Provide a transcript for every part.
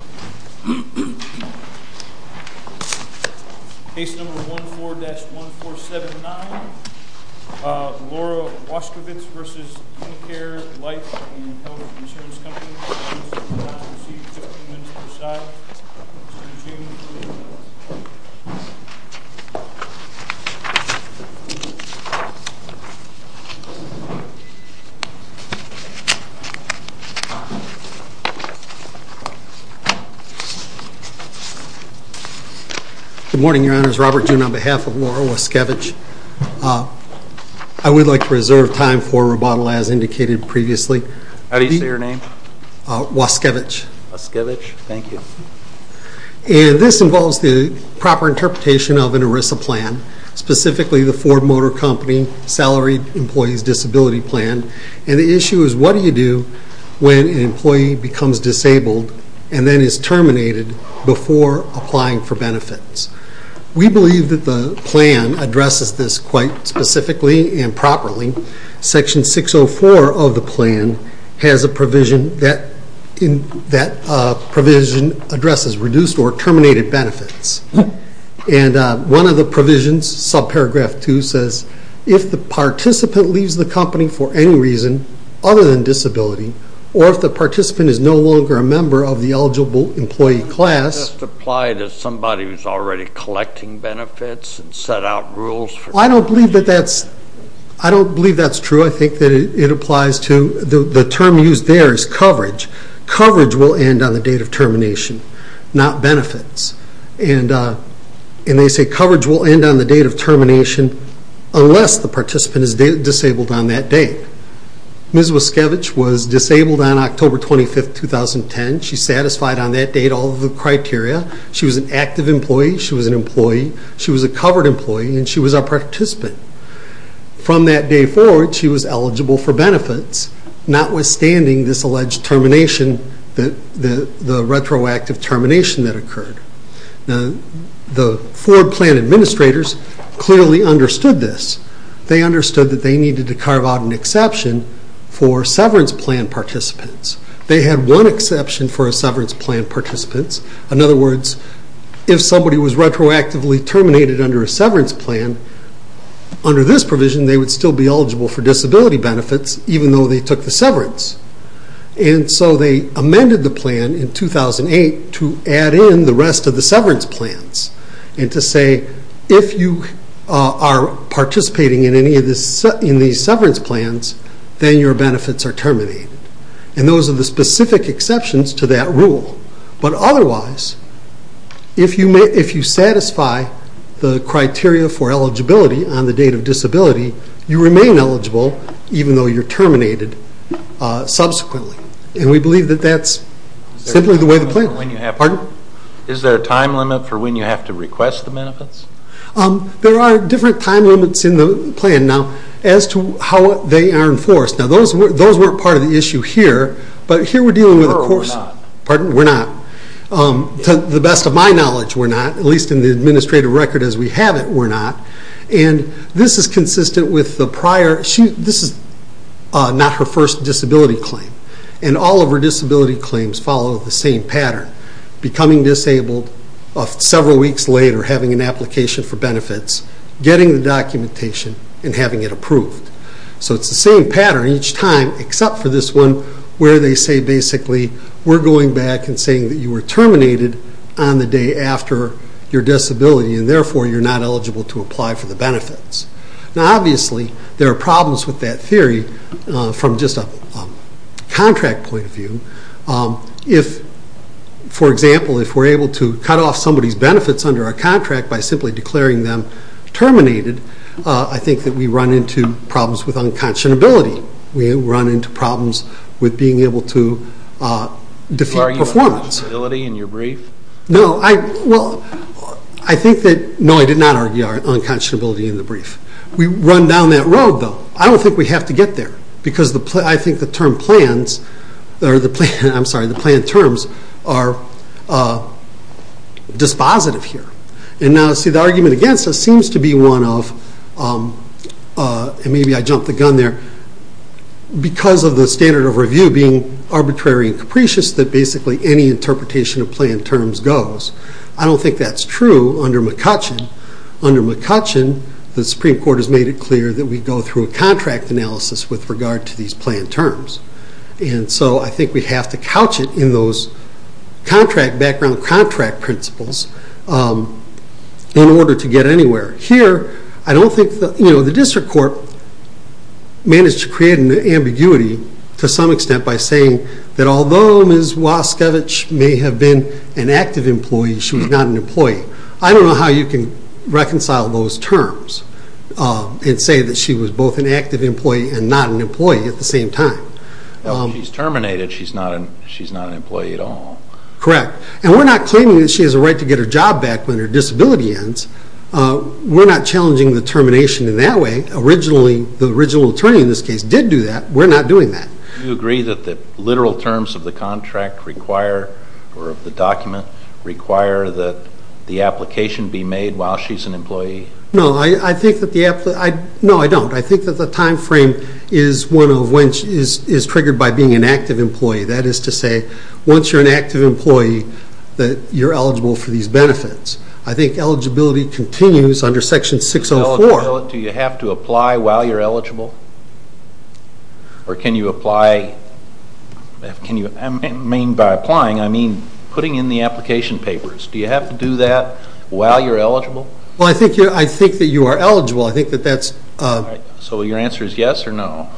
Case No. 14-1479, Laura Waskiewicz v. Unicare Life and Health Insurance Company, Robert June, on behalf of Laura Waskiewicz, I would like to reserve time for rebuttal as indicated previously. This involves the proper interpretation of an ERISA plan, specifically the Ford Motor Company Salary Employees Disability Plan, and the issue is what do you do when an employee becomes disabled and then is terminated before applying for benefits. We believe that this quite specifically and properly. Section 604 of the plan has a provision that addresses reduced or terminated benefits. One of the provisions, subparagraph 2, says if the participant leaves the company for any reason other than disability, or if the participant is no longer a member of the eligible employee class. Does this apply to somebody who is already collecting benefits and set out rules? I don't believe that is true. I think it applies to, the term used there is coverage. Coverage will end on the date of termination, not benefits. They say coverage will end on the date of termination unless the participant is disabled on that date. Ms. Waskiewicz was disabled on October 25th, 2010. She satisfied on that date all of the criteria. She was an active employee, she was an employee, she was a covered employee, and she was a participant. From that day forward, she was eligible for benefits, notwithstanding this alleged termination, the retroactive termination that occurred. The Ford plan administrators clearly understood this. They understood that they needed to carve out an exception for severance plan participants. They had one exception for severance plan participants. In other words, if somebody was retroactively terminated under a severance plan, under this provision they would still be eligible for disability benefits, even though they took the severance. They amended the plan in 2008 to add in the rest of the severance plans and to say, if you are participating in any of these severance plans, then your benefits are terminated. Those are the specific exceptions to that rule. Otherwise, if you satisfy the criteria for eligibility on the date of disability, you remain eligible even though you are terminated subsequently. We have a time limit for when you have to request the benefits? There are different time limits in the plan now as to how they are enforced. Those weren't part of the issue here, but here we are dealing with a course. To the best of my knowledge, we are not. At least in the administrative record as we have it, we are not. This is consistent with the prior This is not her first disability claim. All of her disability claims follow the same pattern. Becoming disabled several weeks later, having an application for benefits, getting the documentation and having it approved. It is the same pattern each time, except for this one where they say basically, we are going back and saying that you were terminated on the day after your disability and therefore you are not eligible to apply for the benefits. Obviously, there are problems with that theory from just a contract point of view. If, for example, if we are able to cut off somebody's benefits under a contract by simply declaring them terminated, I think that we run into problems with unconscionability. We run into problems with being able to defeat performance. Do you argue unconscionability in your brief? No, I did not argue unconscionability in the brief. We run down that road, though. I don't think we have to get there because I think the term plans, I'm sorry, the plan terms are dispositive here. The argument against this seems to be one of, and maybe I jumped the gun there, because of the standard of review being arbitrary and capricious that basically any interpretation of plan terms goes. I don't think that's true under McCutcheon. Under McCutcheon, the Supreme Court has made it clear that we go through a contract analysis with regard to these plan terms. I think we have to couch it in those background contract principles in order to get anywhere. Here, I don't think the District Court managed to create an ambiguity to some extent by saying that although Ms. Waskevich may have been an active employee, she was not an employee. I don't know how you can reconcile those terms and say that she was both an active employee and not an employee at the same time. She's terminated. She's not an employee at all. Correct. We're not claiming that she has a right to get her job back when her disability ends. We're not challenging the termination in that way. Originally, the original attorney in this case did do that. We're not doing that. Do you agree that the literal terms of the contract require, or of the document, require that the application be made while she's an employee? No, I don't. I think that the time frame is one of when she is triggered by being an active employee. That is to say, once you're an active employee, you're eligible for these benefits. I think eligibility continues under Section 604. Do you have to apply while you're eligible? I mean by applying, I mean putting in the application papers. Do you have to do that while you're eligible? I think that you are eligible. Your answer is yes or no?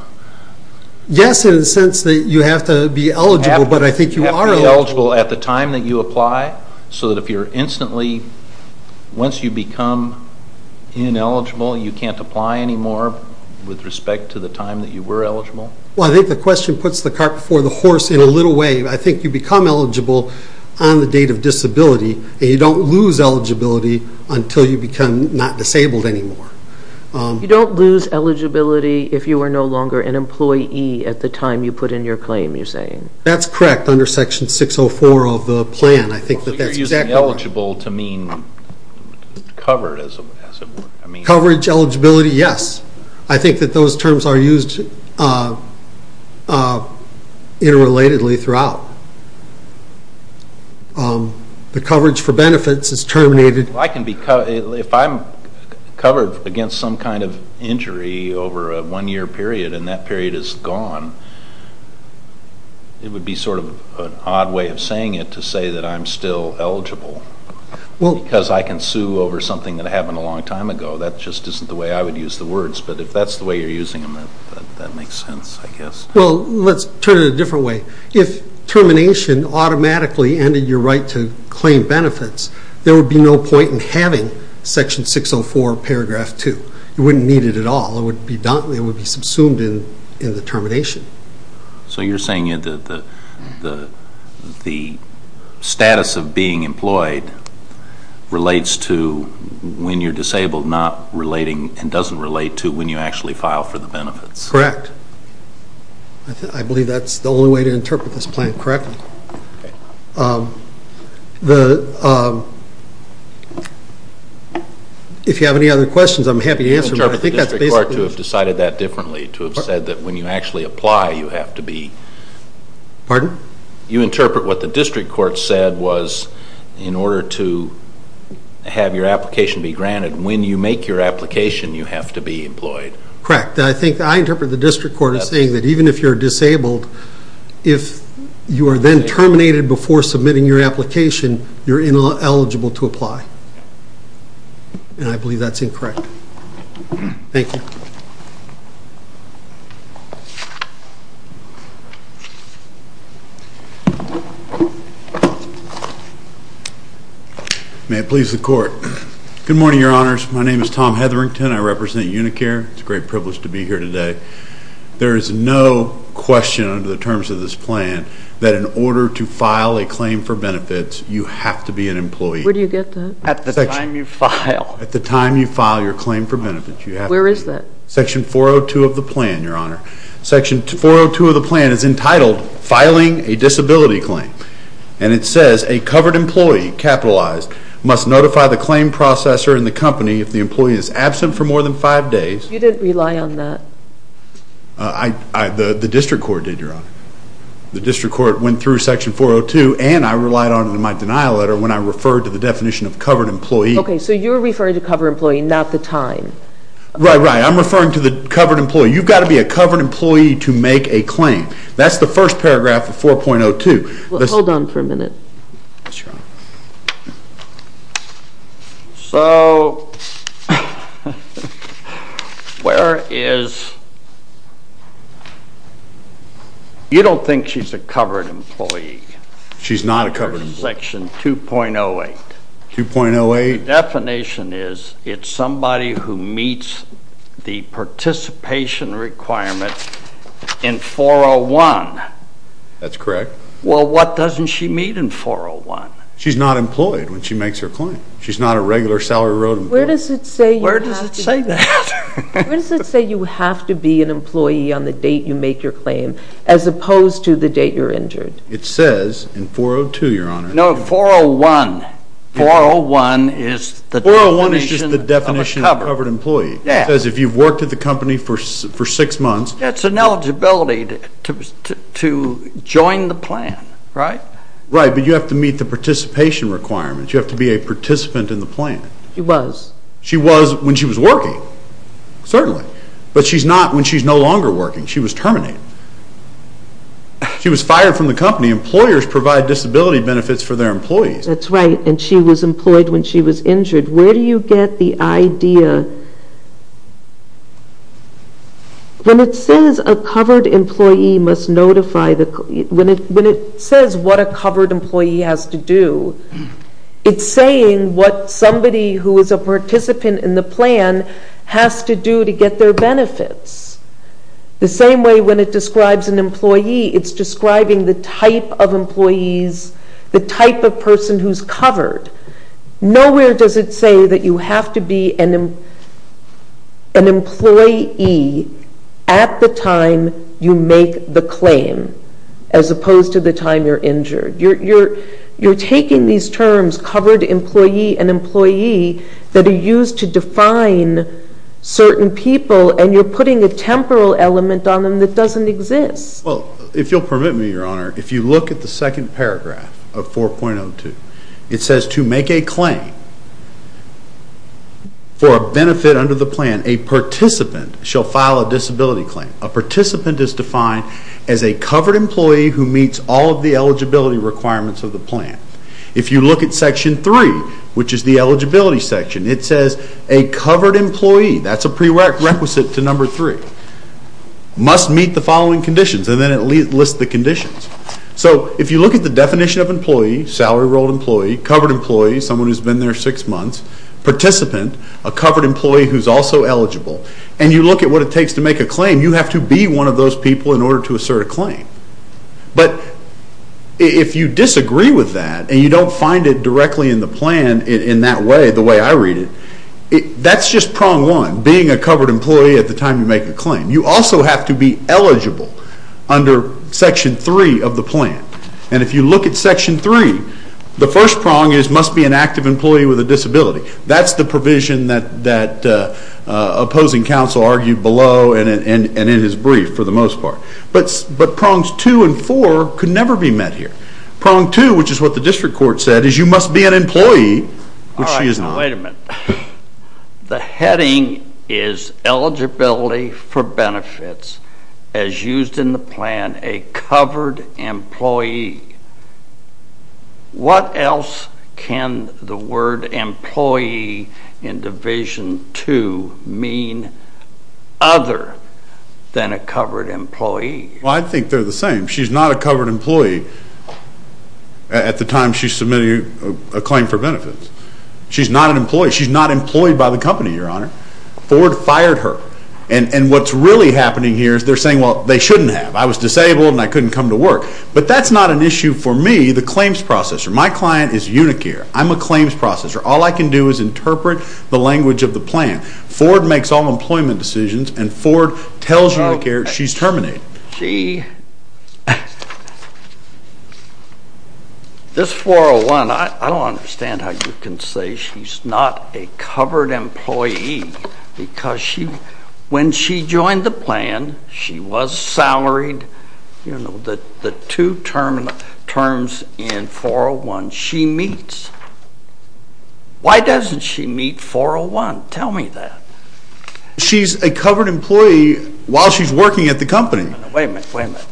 Yes, in the sense that you have to be eligible, but I think you are eligible. You have to be eligible at the time that you apply, so that if you're instantly, once you become ineligible, you can't apply anymore with respect to the time that you were eligible? Well, I think the question puts the cart before the horse in a little way. I think you become eligible on the date of disability, and you don't lose eligibility until you become not disabled anymore. You don't lose eligibility if you are no longer an employee at the time you put in your claim, you're saying? That's correct under Section 604 of the plan. I think that that's exactly right. Would you be eligible to mean covered as it were? Coverage eligibility, yes. I think that those terms are used interrelatedly throughout. The coverage for benefits is terminated. If I'm covered against some kind of injury over a one-year period, and that period is an odd way of saying it, to say that I'm still eligible because I can sue over something that happened a long time ago, that just isn't the way I would use the words, but if that's the way you're using them, that makes sense, I guess. Well, let's turn it a different way. If termination automatically ended your right to claim benefits, there would be no point in having Section 604, paragraph 2. You wouldn't need it at all. It would be subsumed in the termination. So you're saying the status of being employed relates to when you're disabled, not relating and doesn't relate to when you actually file for the benefits. Correct. I believe that's the only way to interpret this plan correctly. If you have any other questions, I'm happy to answer them. I think that's basically... Pardon? You interpret what the district court said was in order to have your application be granted, when you make your application, you have to be employed. Correct. I think I interpret the district court as saying that even if you're disabled, if you are then terminated before submitting your application, you're ineligible to apply. And I believe that's incorrect. Thank you. May it please the Court. Good morning, Your Honors. My name is Tom Hetherington. I represent Unicare. It's a great privilege to be here today. There is no question under the terms of this plan that in order to file a claim for benefits, you have to be an employee. Where do you get that? At the time you file. At the time you file your claim for benefits. Where is that? Section 402 of the plan, Your Honor. Section 402 of the plan is entitled Filing a Disability Claim. And it says a covered employee, capitalized, must notify the claim processor and the company if the employee is absent for more than five days. You didn't rely on that. The district court did, Your Honor. The district court went through Section 402 and I relied on it in my denial letter when I referred to the definition of covered employee. Okay, so you're referring to covered employee, not the time. Right, right. I'm referring to the covered employee. You've got to be a covered employee to make a claim. That's the first paragraph of 4.02. Hold on for a minute. So, where is... You don't think she's a covered employee? She's not a covered employee. Section 2.08. 2.08? The definition is it's somebody who meets the participation requirements in 4.01. That's correct. Well what doesn't she meet in 4.01? She's not employed when she makes her claim. She's not a regular salary road employer. Where does it say you have to be an employee on the date you make your claim as opposed to the date you're injured? It says in 4.02, Your Honor. No, 4.01. 4.01 is the definition of a covered employee. 4.01 is just the definition of a covered employee. It says if you've worked at the company for six months... It's an eligibility to join the plan, right? Right, but you have to meet the participation requirements. You have to be a participant in the plan. She was. She was when she was working, certainly. But she's not when she's no longer working. She was terminated. She was fired from the company. Employers provide disability benefits for their employees. That's right, and she was employed when she was injured. Where do you get the idea? When it says a covered employee must notify the... When it says what a covered employee has to do, it's saying what somebody who is a participant in the plan has to do to get their benefits. The same way when it describes an employee, it's describing the type of employees, the type of person who's covered. Nowhere does it say that you have to be an employee at the time you make the claim, as opposed to the time you're injured. You're taking these terms, covered employee and employee, that are used to define certain people, and you're putting a temporal element on them that doesn't exist. If you'll permit me, Your Honor, if you look at the second paragraph of 4.02, it says to make a claim for a benefit under the plan, a participant shall file a disability claim. A participant is defined as a covered employee who meets all of the eligibility requirements of the plan. If you look at Section 3, which is the eligibility section, it says a covered employee. That's a prerequisite to number three. Must meet the following conditions, and then it lists the conditions. So if you look at the definition of employee, salary-rolled employee, covered employee, someone who's been there six months, participant, a covered employee who's also eligible, and you look at what it takes to make a claim, you have to be one of those people in order to assert a claim. But if you disagree with that, and you don't find it directly in the plan in that way, the way I read it, that's just prong one, being a covered employee at the time you make a claim. You also have to be eligible under Section 3 of the plan. And if you look at Section 3, the first prong is must be an active employee with a disability. That's the provision that opposing counsel argued below and in his brief, for the most part. But prongs two and four could never be met here. Prong two, which is what the district court said, is you must be an employee, which she is not. All right, now wait a minute. The heading is eligibility for benefits, as used in the plan, a covered employee. What else can the word employee in Division 2 mean other than a covered employee? Well, I think they're the same. She's not a covered employee at the time she's submitting a claim for benefits. She's not an employee. She's not employed by the company, Your Honor. Ford fired her. And what's really happening here is they're saying, well, they shouldn't have. I was disabled, and I couldn't come to work. But that's not an issue for me, the claims processor. My client is Unicare. I'm a claims processor. All I can do is interpret the language of the plan. Ford makes all employment decisions, and Ford tells Unicare she's terminated. She, this 401, I don't understand how you can say she's not a covered employee. Because when she joined the plan, she was salaried. You know, the two terms in 401, she meets. Why doesn't she meet 401? Tell me that. She's a covered employee while she's working at the company. Wait a minute, wait a minute.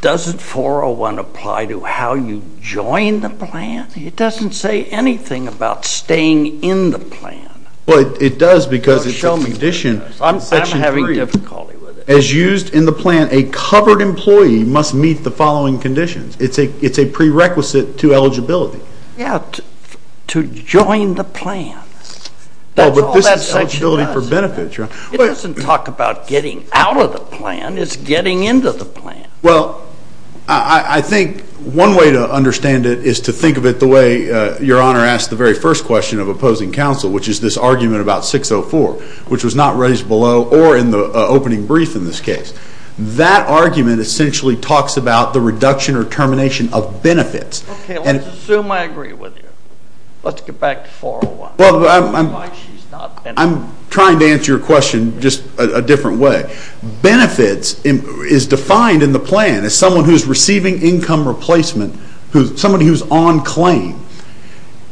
Doesn't 401 apply to how you join the plan? It doesn't say anything about staying in the plan. But it does because it's a condition. I'm having difficulty with it. As used in the plan, a covered employee must meet the following conditions. It's a prerequisite to eligibility. Yeah, to join the plan. Well, but this is eligibility for benefits, right? It doesn't talk about getting out of the plan. It's getting into the plan. Well, I think one way to understand it is to think of it the way your honor asked the very first question of opposing counsel, which is this argument about 604, which was not raised below or in the opening brief in this case. That argument essentially talks about the reduction or termination of benefits. OK, let's assume I agree with you. Let's get back to 401. Why she's not in it? I'm trying to answer your question just a different way. Benefits is defined in the plan as someone who's receiving income replacement, somebody who's on claim.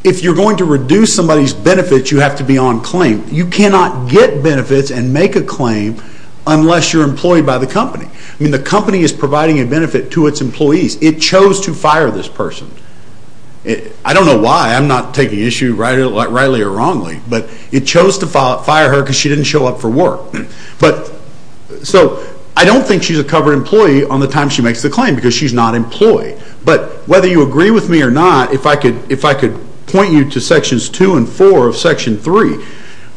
If you're going to reduce somebody's benefits, you have to be on claim. You cannot get benefits and make a claim unless you're employed by the company. I mean, the company is providing a benefit to its employees. It chose to fire this person. I don't know why. I'm not taking issue rightly or wrongly. But it chose to fire her because she didn't show up for work. So I don't think she's a covered employee on the time she makes the claim because she's not employed. But whether you agree with me or not, if I could point you to sections two and four of section three,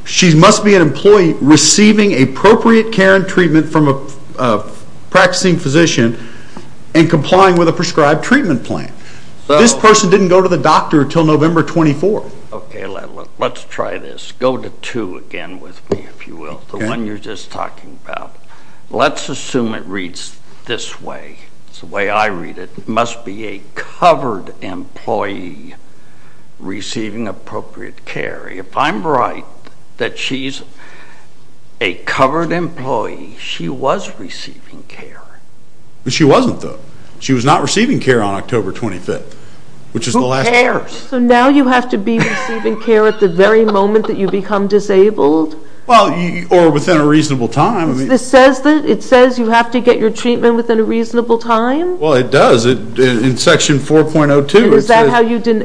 she must be an employee receiving appropriate care and treatment from a practicing physician and complying with a prescribed treatment plan. This person didn't go to the doctor until November 24. OK, let's try this. Go to two again with me, if you will, the one you're just talking about. Let's assume it reads this way. It's the way I read it. Must be a covered employee receiving appropriate care. If I'm right that she's a covered employee, she was receiving care. She wasn't, though. She was not receiving care on October 25. Who cares? So now you have to be receiving care at the very moment that you become disabled? Well, or within a reasonable time. This says that? It says you have to get your treatment within a reasonable time? Well, it does in section 4.02.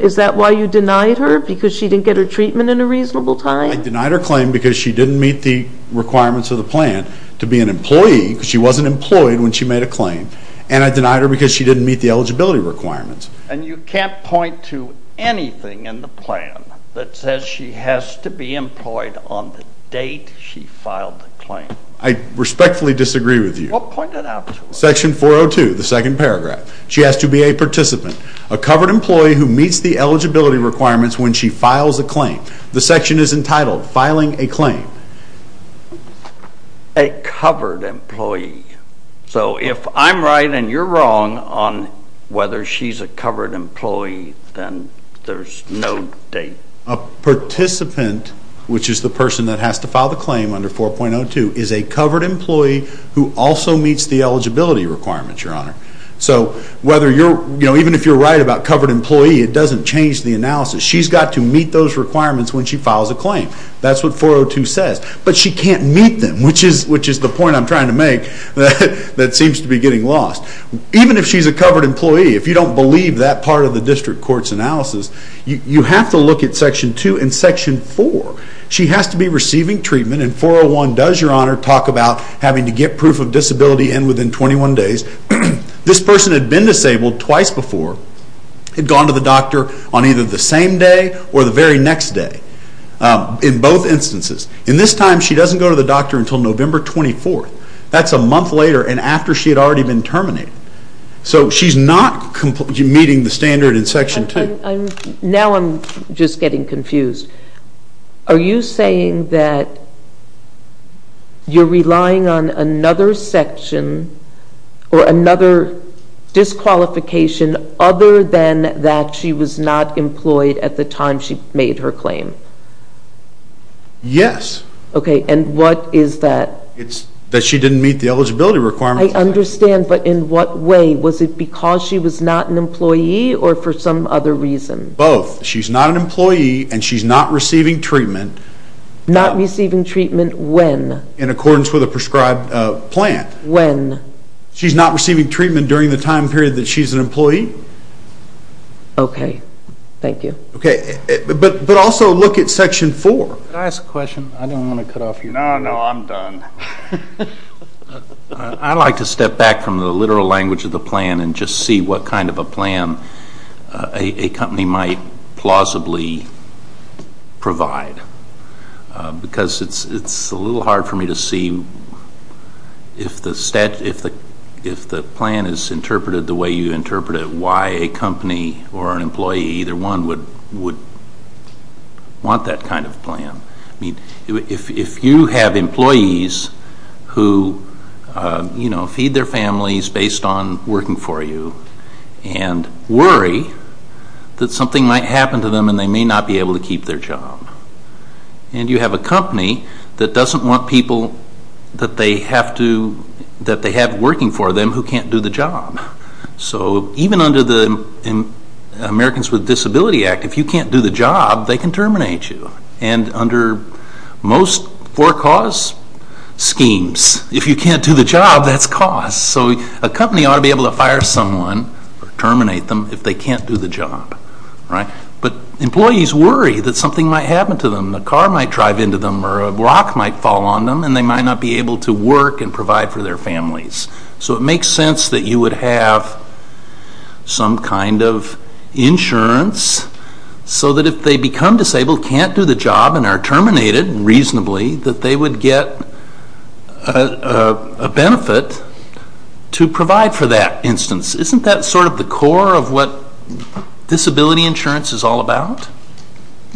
Is that why you denied her? Because she didn't get her treatment in a reasonable time? I denied her claim because she didn't meet the requirements of the plan to be an employee because she wasn't employed when she made a claim. And I denied her because she didn't meet the eligibility requirements. And you can't point to anything in the plan that says she has to be employed on the date she filed the claim? I respectfully disagree with you. Well, point it out to us. Section 4.02, the second paragraph. She has to be a participant, a covered employee who meets the eligibility requirements when she files a claim. The section is entitled Filing a Claim. A covered employee. So if I'm right and you're wrong on whether she's a covered employee, then there's no date. A participant, which is the person that has to file the claim under 4.02, is a covered employee who also meets the eligibility requirements, Your Honor. So even if you're right about covered employee, it doesn't change the analysis. She's got to meet those requirements when she files a claim. That's what 4.02 says. But she can't meet them, which is the point I'm trying to make that seems to be getting lost. Even if she's a covered employee, if you don't believe that part of the district court's analysis, you have to look at section 2 and section 4. She has to be receiving treatment. And 4.01 does, Your Honor, talk about having to get proof of disability and within 21 days. This person had been disabled twice before. Had gone to the doctor on either the same day or the very next day in both instances. In this time, she doesn't go to the doctor until November 24th. That's a month later and after she had already been terminated. So she's not meeting the standard in section 2. Now I'm just getting confused. Are you saying that you're relying on another section or another disqualification other than that she was not employed at the time she made her claim? Yes. OK. And what is that? It's that she didn't meet the eligibility requirements. I understand. But in what way? Was it because she was not an employee or for some other reason? Both. She's not an employee and she's not receiving treatment. Not receiving treatment when? In accordance with a prescribed plan. When? She's not receiving treatment during the time period that she's an employee. OK. Thank you. But also look at section 4. Can I ask a question? I don't want to cut off your time. No, no, I'm done. I'd like to step back from the literal language of the plan and just see what kind of a plan a company might plausibly provide because it's a little hard for me to see if the plan is interpreted the way you interpret it, why a company or an employee, either one, would want that kind of plan. If you have employees who feed their families based on working for you and worry that something might happen to them and they may not be able to keep their job, and you have a company that doesn't want people that they have working for them who can't do the job. So even under the Americans with Disabilities Act, if you can't do the job, they can terminate you. And under most for-cause schemes, if you can't do the job, that's cause. So a company ought to be able to fire someone or terminate them if they can't do the job. But employees worry that something might happen to them. A car might drive into them or a rock might fall on them and they might not be able to work and provide for their families. So it makes sense that you would have some kind of insurance so that if they become disabled, can't do the job, and are terminated reasonably, that they would get a benefit to provide for that instance. Isn't that sort of the core of what disability insurance is all about?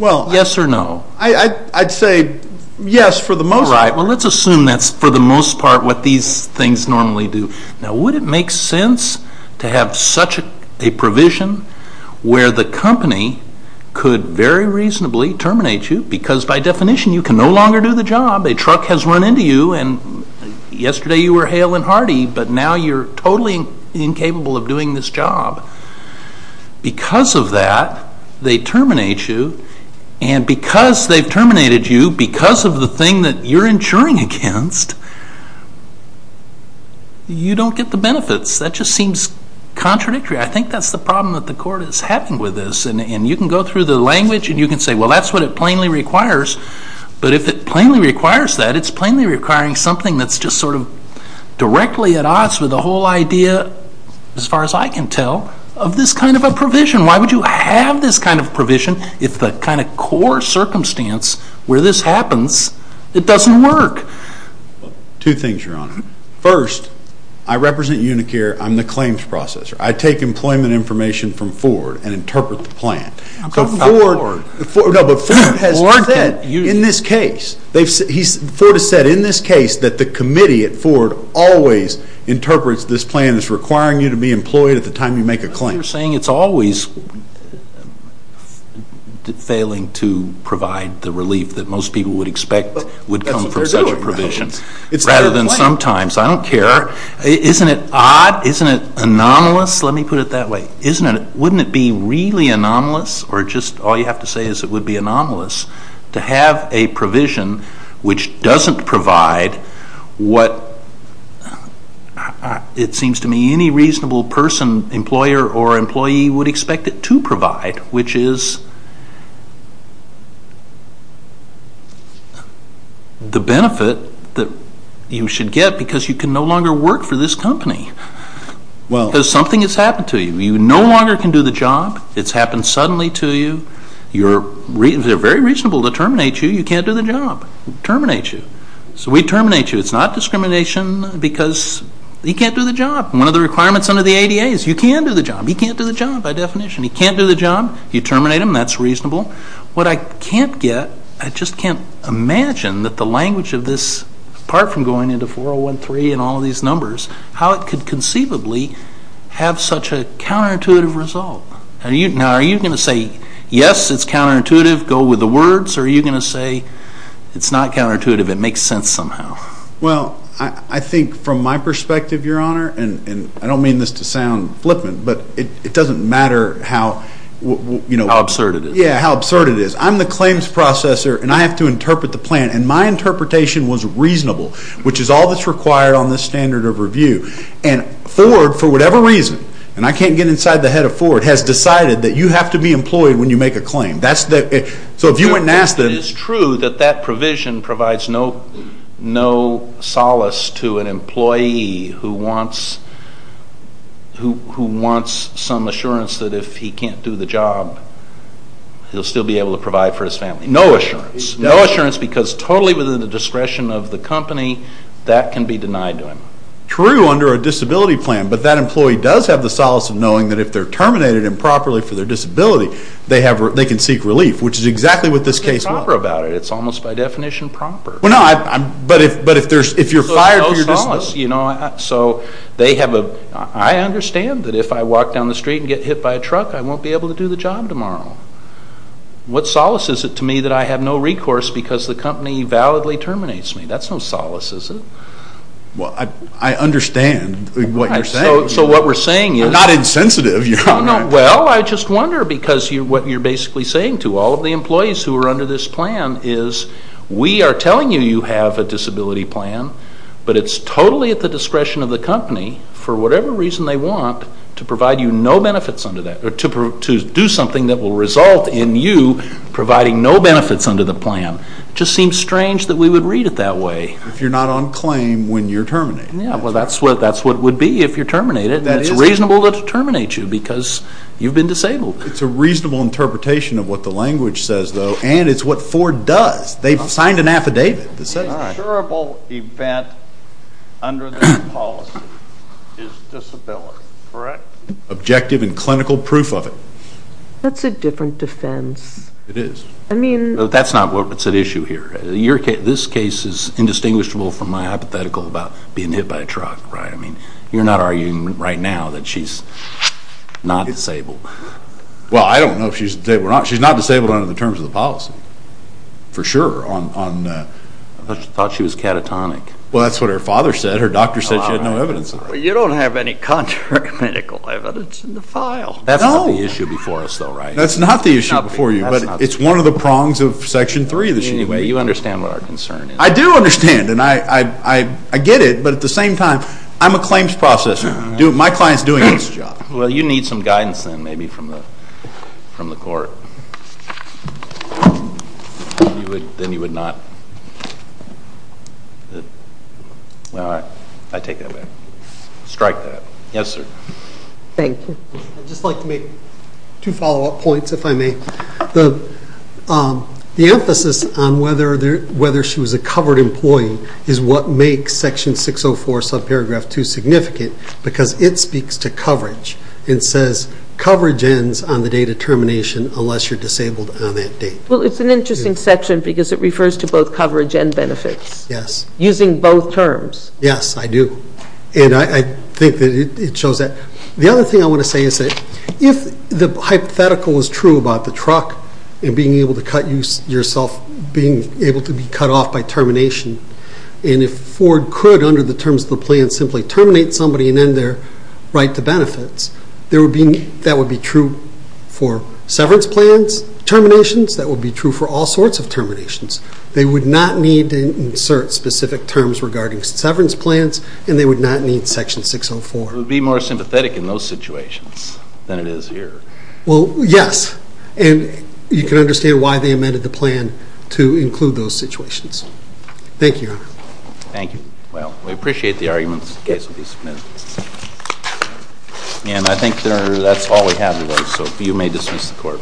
Yes or no? I'd say yes for the most part. All right, well let's assume that's for the most part what these things normally do. Now would it make sense to have such a provision where the company could very reasonably terminate you because by definition you can no longer do the job. A truck has run into you and yesterday you were hale and hearty, but now you're totally incapable of doing this job. Because of that, they terminate you. And because they've terminated you, because of the thing that you're insuring against, you don't get the benefits. That just seems contradictory. I think that's the problem that the court is having with this. And you can go through the language and you can say, well, that's what it plainly requires. But if it plainly requires that, it's plainly requiring something that's just sort of directly at odds with the whole idea, as far as I can tell, of this kind of a provision. Why would you have this kind of provision if the kind of core circumstance where this happens, it doesn't work? Two things, Your Honor. First, I represent Unicare. I'm the claims processor. I take employment information from Ford and interpret the plan. But Ford has said in this case that the committee at Ford always interprets this plan as requiring you to be employed at the time you make a claim. But you're saying it's always failing to provide the relief that most people would expect would come from such a provision, rather than sometimes. I don't care. Isn't it odd? Isn't it anomalous? Let me put it that way. Wouldn't it be really anomalous, or just all you have to say is it would be anomalous, to have a provision which doesn't provide what it seems to me any reasonable person, employer, or employee would expect it to provide, which is the benefit that you should get because you can no longer work for this company. Because something has happened to you. You no longer can do the job. It's happened suddenly to you. They're very reasonable to terminate you. You can't do the job. Terminate you. So we terminate you. It's not discrimination because you can't do the job. One of the requirements under the ADA is you can do the job. You can't do the job, by definition. You can't do the job. You terminate them. That's reasonable. What I can't get, I just can't imagine that the language of this, apart from going into 401.3 and all of these numbers, how it could conceivably have such a counterintuitive result. Now, are you going to say, yes, it's counterintuitive, go with the words, or are you going to say it's not counterintuitive, it makes sense somehow? Well, I think from my perspective, Your Honor, and I don't mean this to sound flippant, but it doesn't matter how, you know. How absurd it is. Yeah, how absurd it is. I'm the claims processor, and I have to interpret the plan. And my interpretation was reasonable, which is all that's required on this standard of review. And Ford, for whatever reason, and I can't get inside the head of Ford, has decided that you have to be employed when you make a claim. So if you went and asked them. It is true that that provision provides no solace to an employee who wants some assurance that if he can't do the job, he'll still be able to provide for his family. No assurance. No assurance because totally within the discretion of the company, that can be denied to him. True under a disability plan, but that employee does have the solace of knowing that if they're terminated improperly for their disability, they can seek relief, which is exactly what this case was. It's almost by definition proper. But if you're fired for your disability. So there's no solace. I understand that if I walk down the street and get hit by a truck, I won't be able to do the job tomorrow. What solace is it to me that I have no recourse because the company validly terminates me? That's no solace, is it? Well, I understand what you're saying. So what we're saying is. We're not insensitive. Well, I just wonder because what you're basically saying to all of the employees who are under this plan is we are telling you you have a disability plan, but it's totally at the discretion of the company for whatever reason they want to provide you no benefits under that, or to do something that will result in you providing no benefits under the plan. It just seems strange that we would read it that way. If you're not on claim when you're terminated. Yeah, well, that's what it would be if you're terminated. It's reasonable to terminate you because you've been disabled. It's a reasonable interpretation of what the language says, though, and it's what Ford does. They've signed an affidavit that says. An insurable event under this policy is disability, correct? Objective and clinical proof of it. That's a different defense. It is. I mean. That's not what's at issue here. This case is indistinguishable from my hypothetical about being hit by a truck, right? I mean, you're not arguing right now that she's not disabled. Well, I don't know if she's disabled or not. She's not disabled under the terms of the policy, for sure. I thought she was catatonic. Well, that's what her father said. Her doctor said she had no evidence of that. You don't have any contract medical evidence in the file. That's not the issue before us, though, right? That's not the issue before you, but it's one of the prongs of Section 3. You understand what our concern is. I do understand, and I get it, but at the same time, I'm a claims processor. My client's doing his job. Well, you need some guidance then, maybe, from the court. Then you would not. I take that back. Strike that. Yes, sir. Thank you. I'd just like to make two follow-up points, if I may. The emphasis on whether she was a covered employee is what makes Section 604, subparagraph 2, significant, because it speaks to coverage. It says coverage ends on the date of termination unless you're disabled on that date. Well, it's an interesting section because it refers to both coverage and benefits. Yes. Using both terms. Yes, I do. And I think that it shows that. The other thing I want to say is that if the hypothetical was true about the truck and being able to cut yourself, being able to be cut off by termination, and if Ford could, under the terms of the plan, simply terminate somebody and end their right to benefits, that would be true for severance plans terminations. That would be true for all sorts of terminations. They would not need to insert specific terms regarding severance plans, and they would not need Section 604. But it would be more sympathetic in those situations than it is here. Well, yes. And you can understand why they amended the plan to include those situations. Thank you, Your Honor. Thank you. Well, we appreciate the arguments. The case will be submitted. And I think, Your Honor, that's all we have today, so you may dismiss the Court.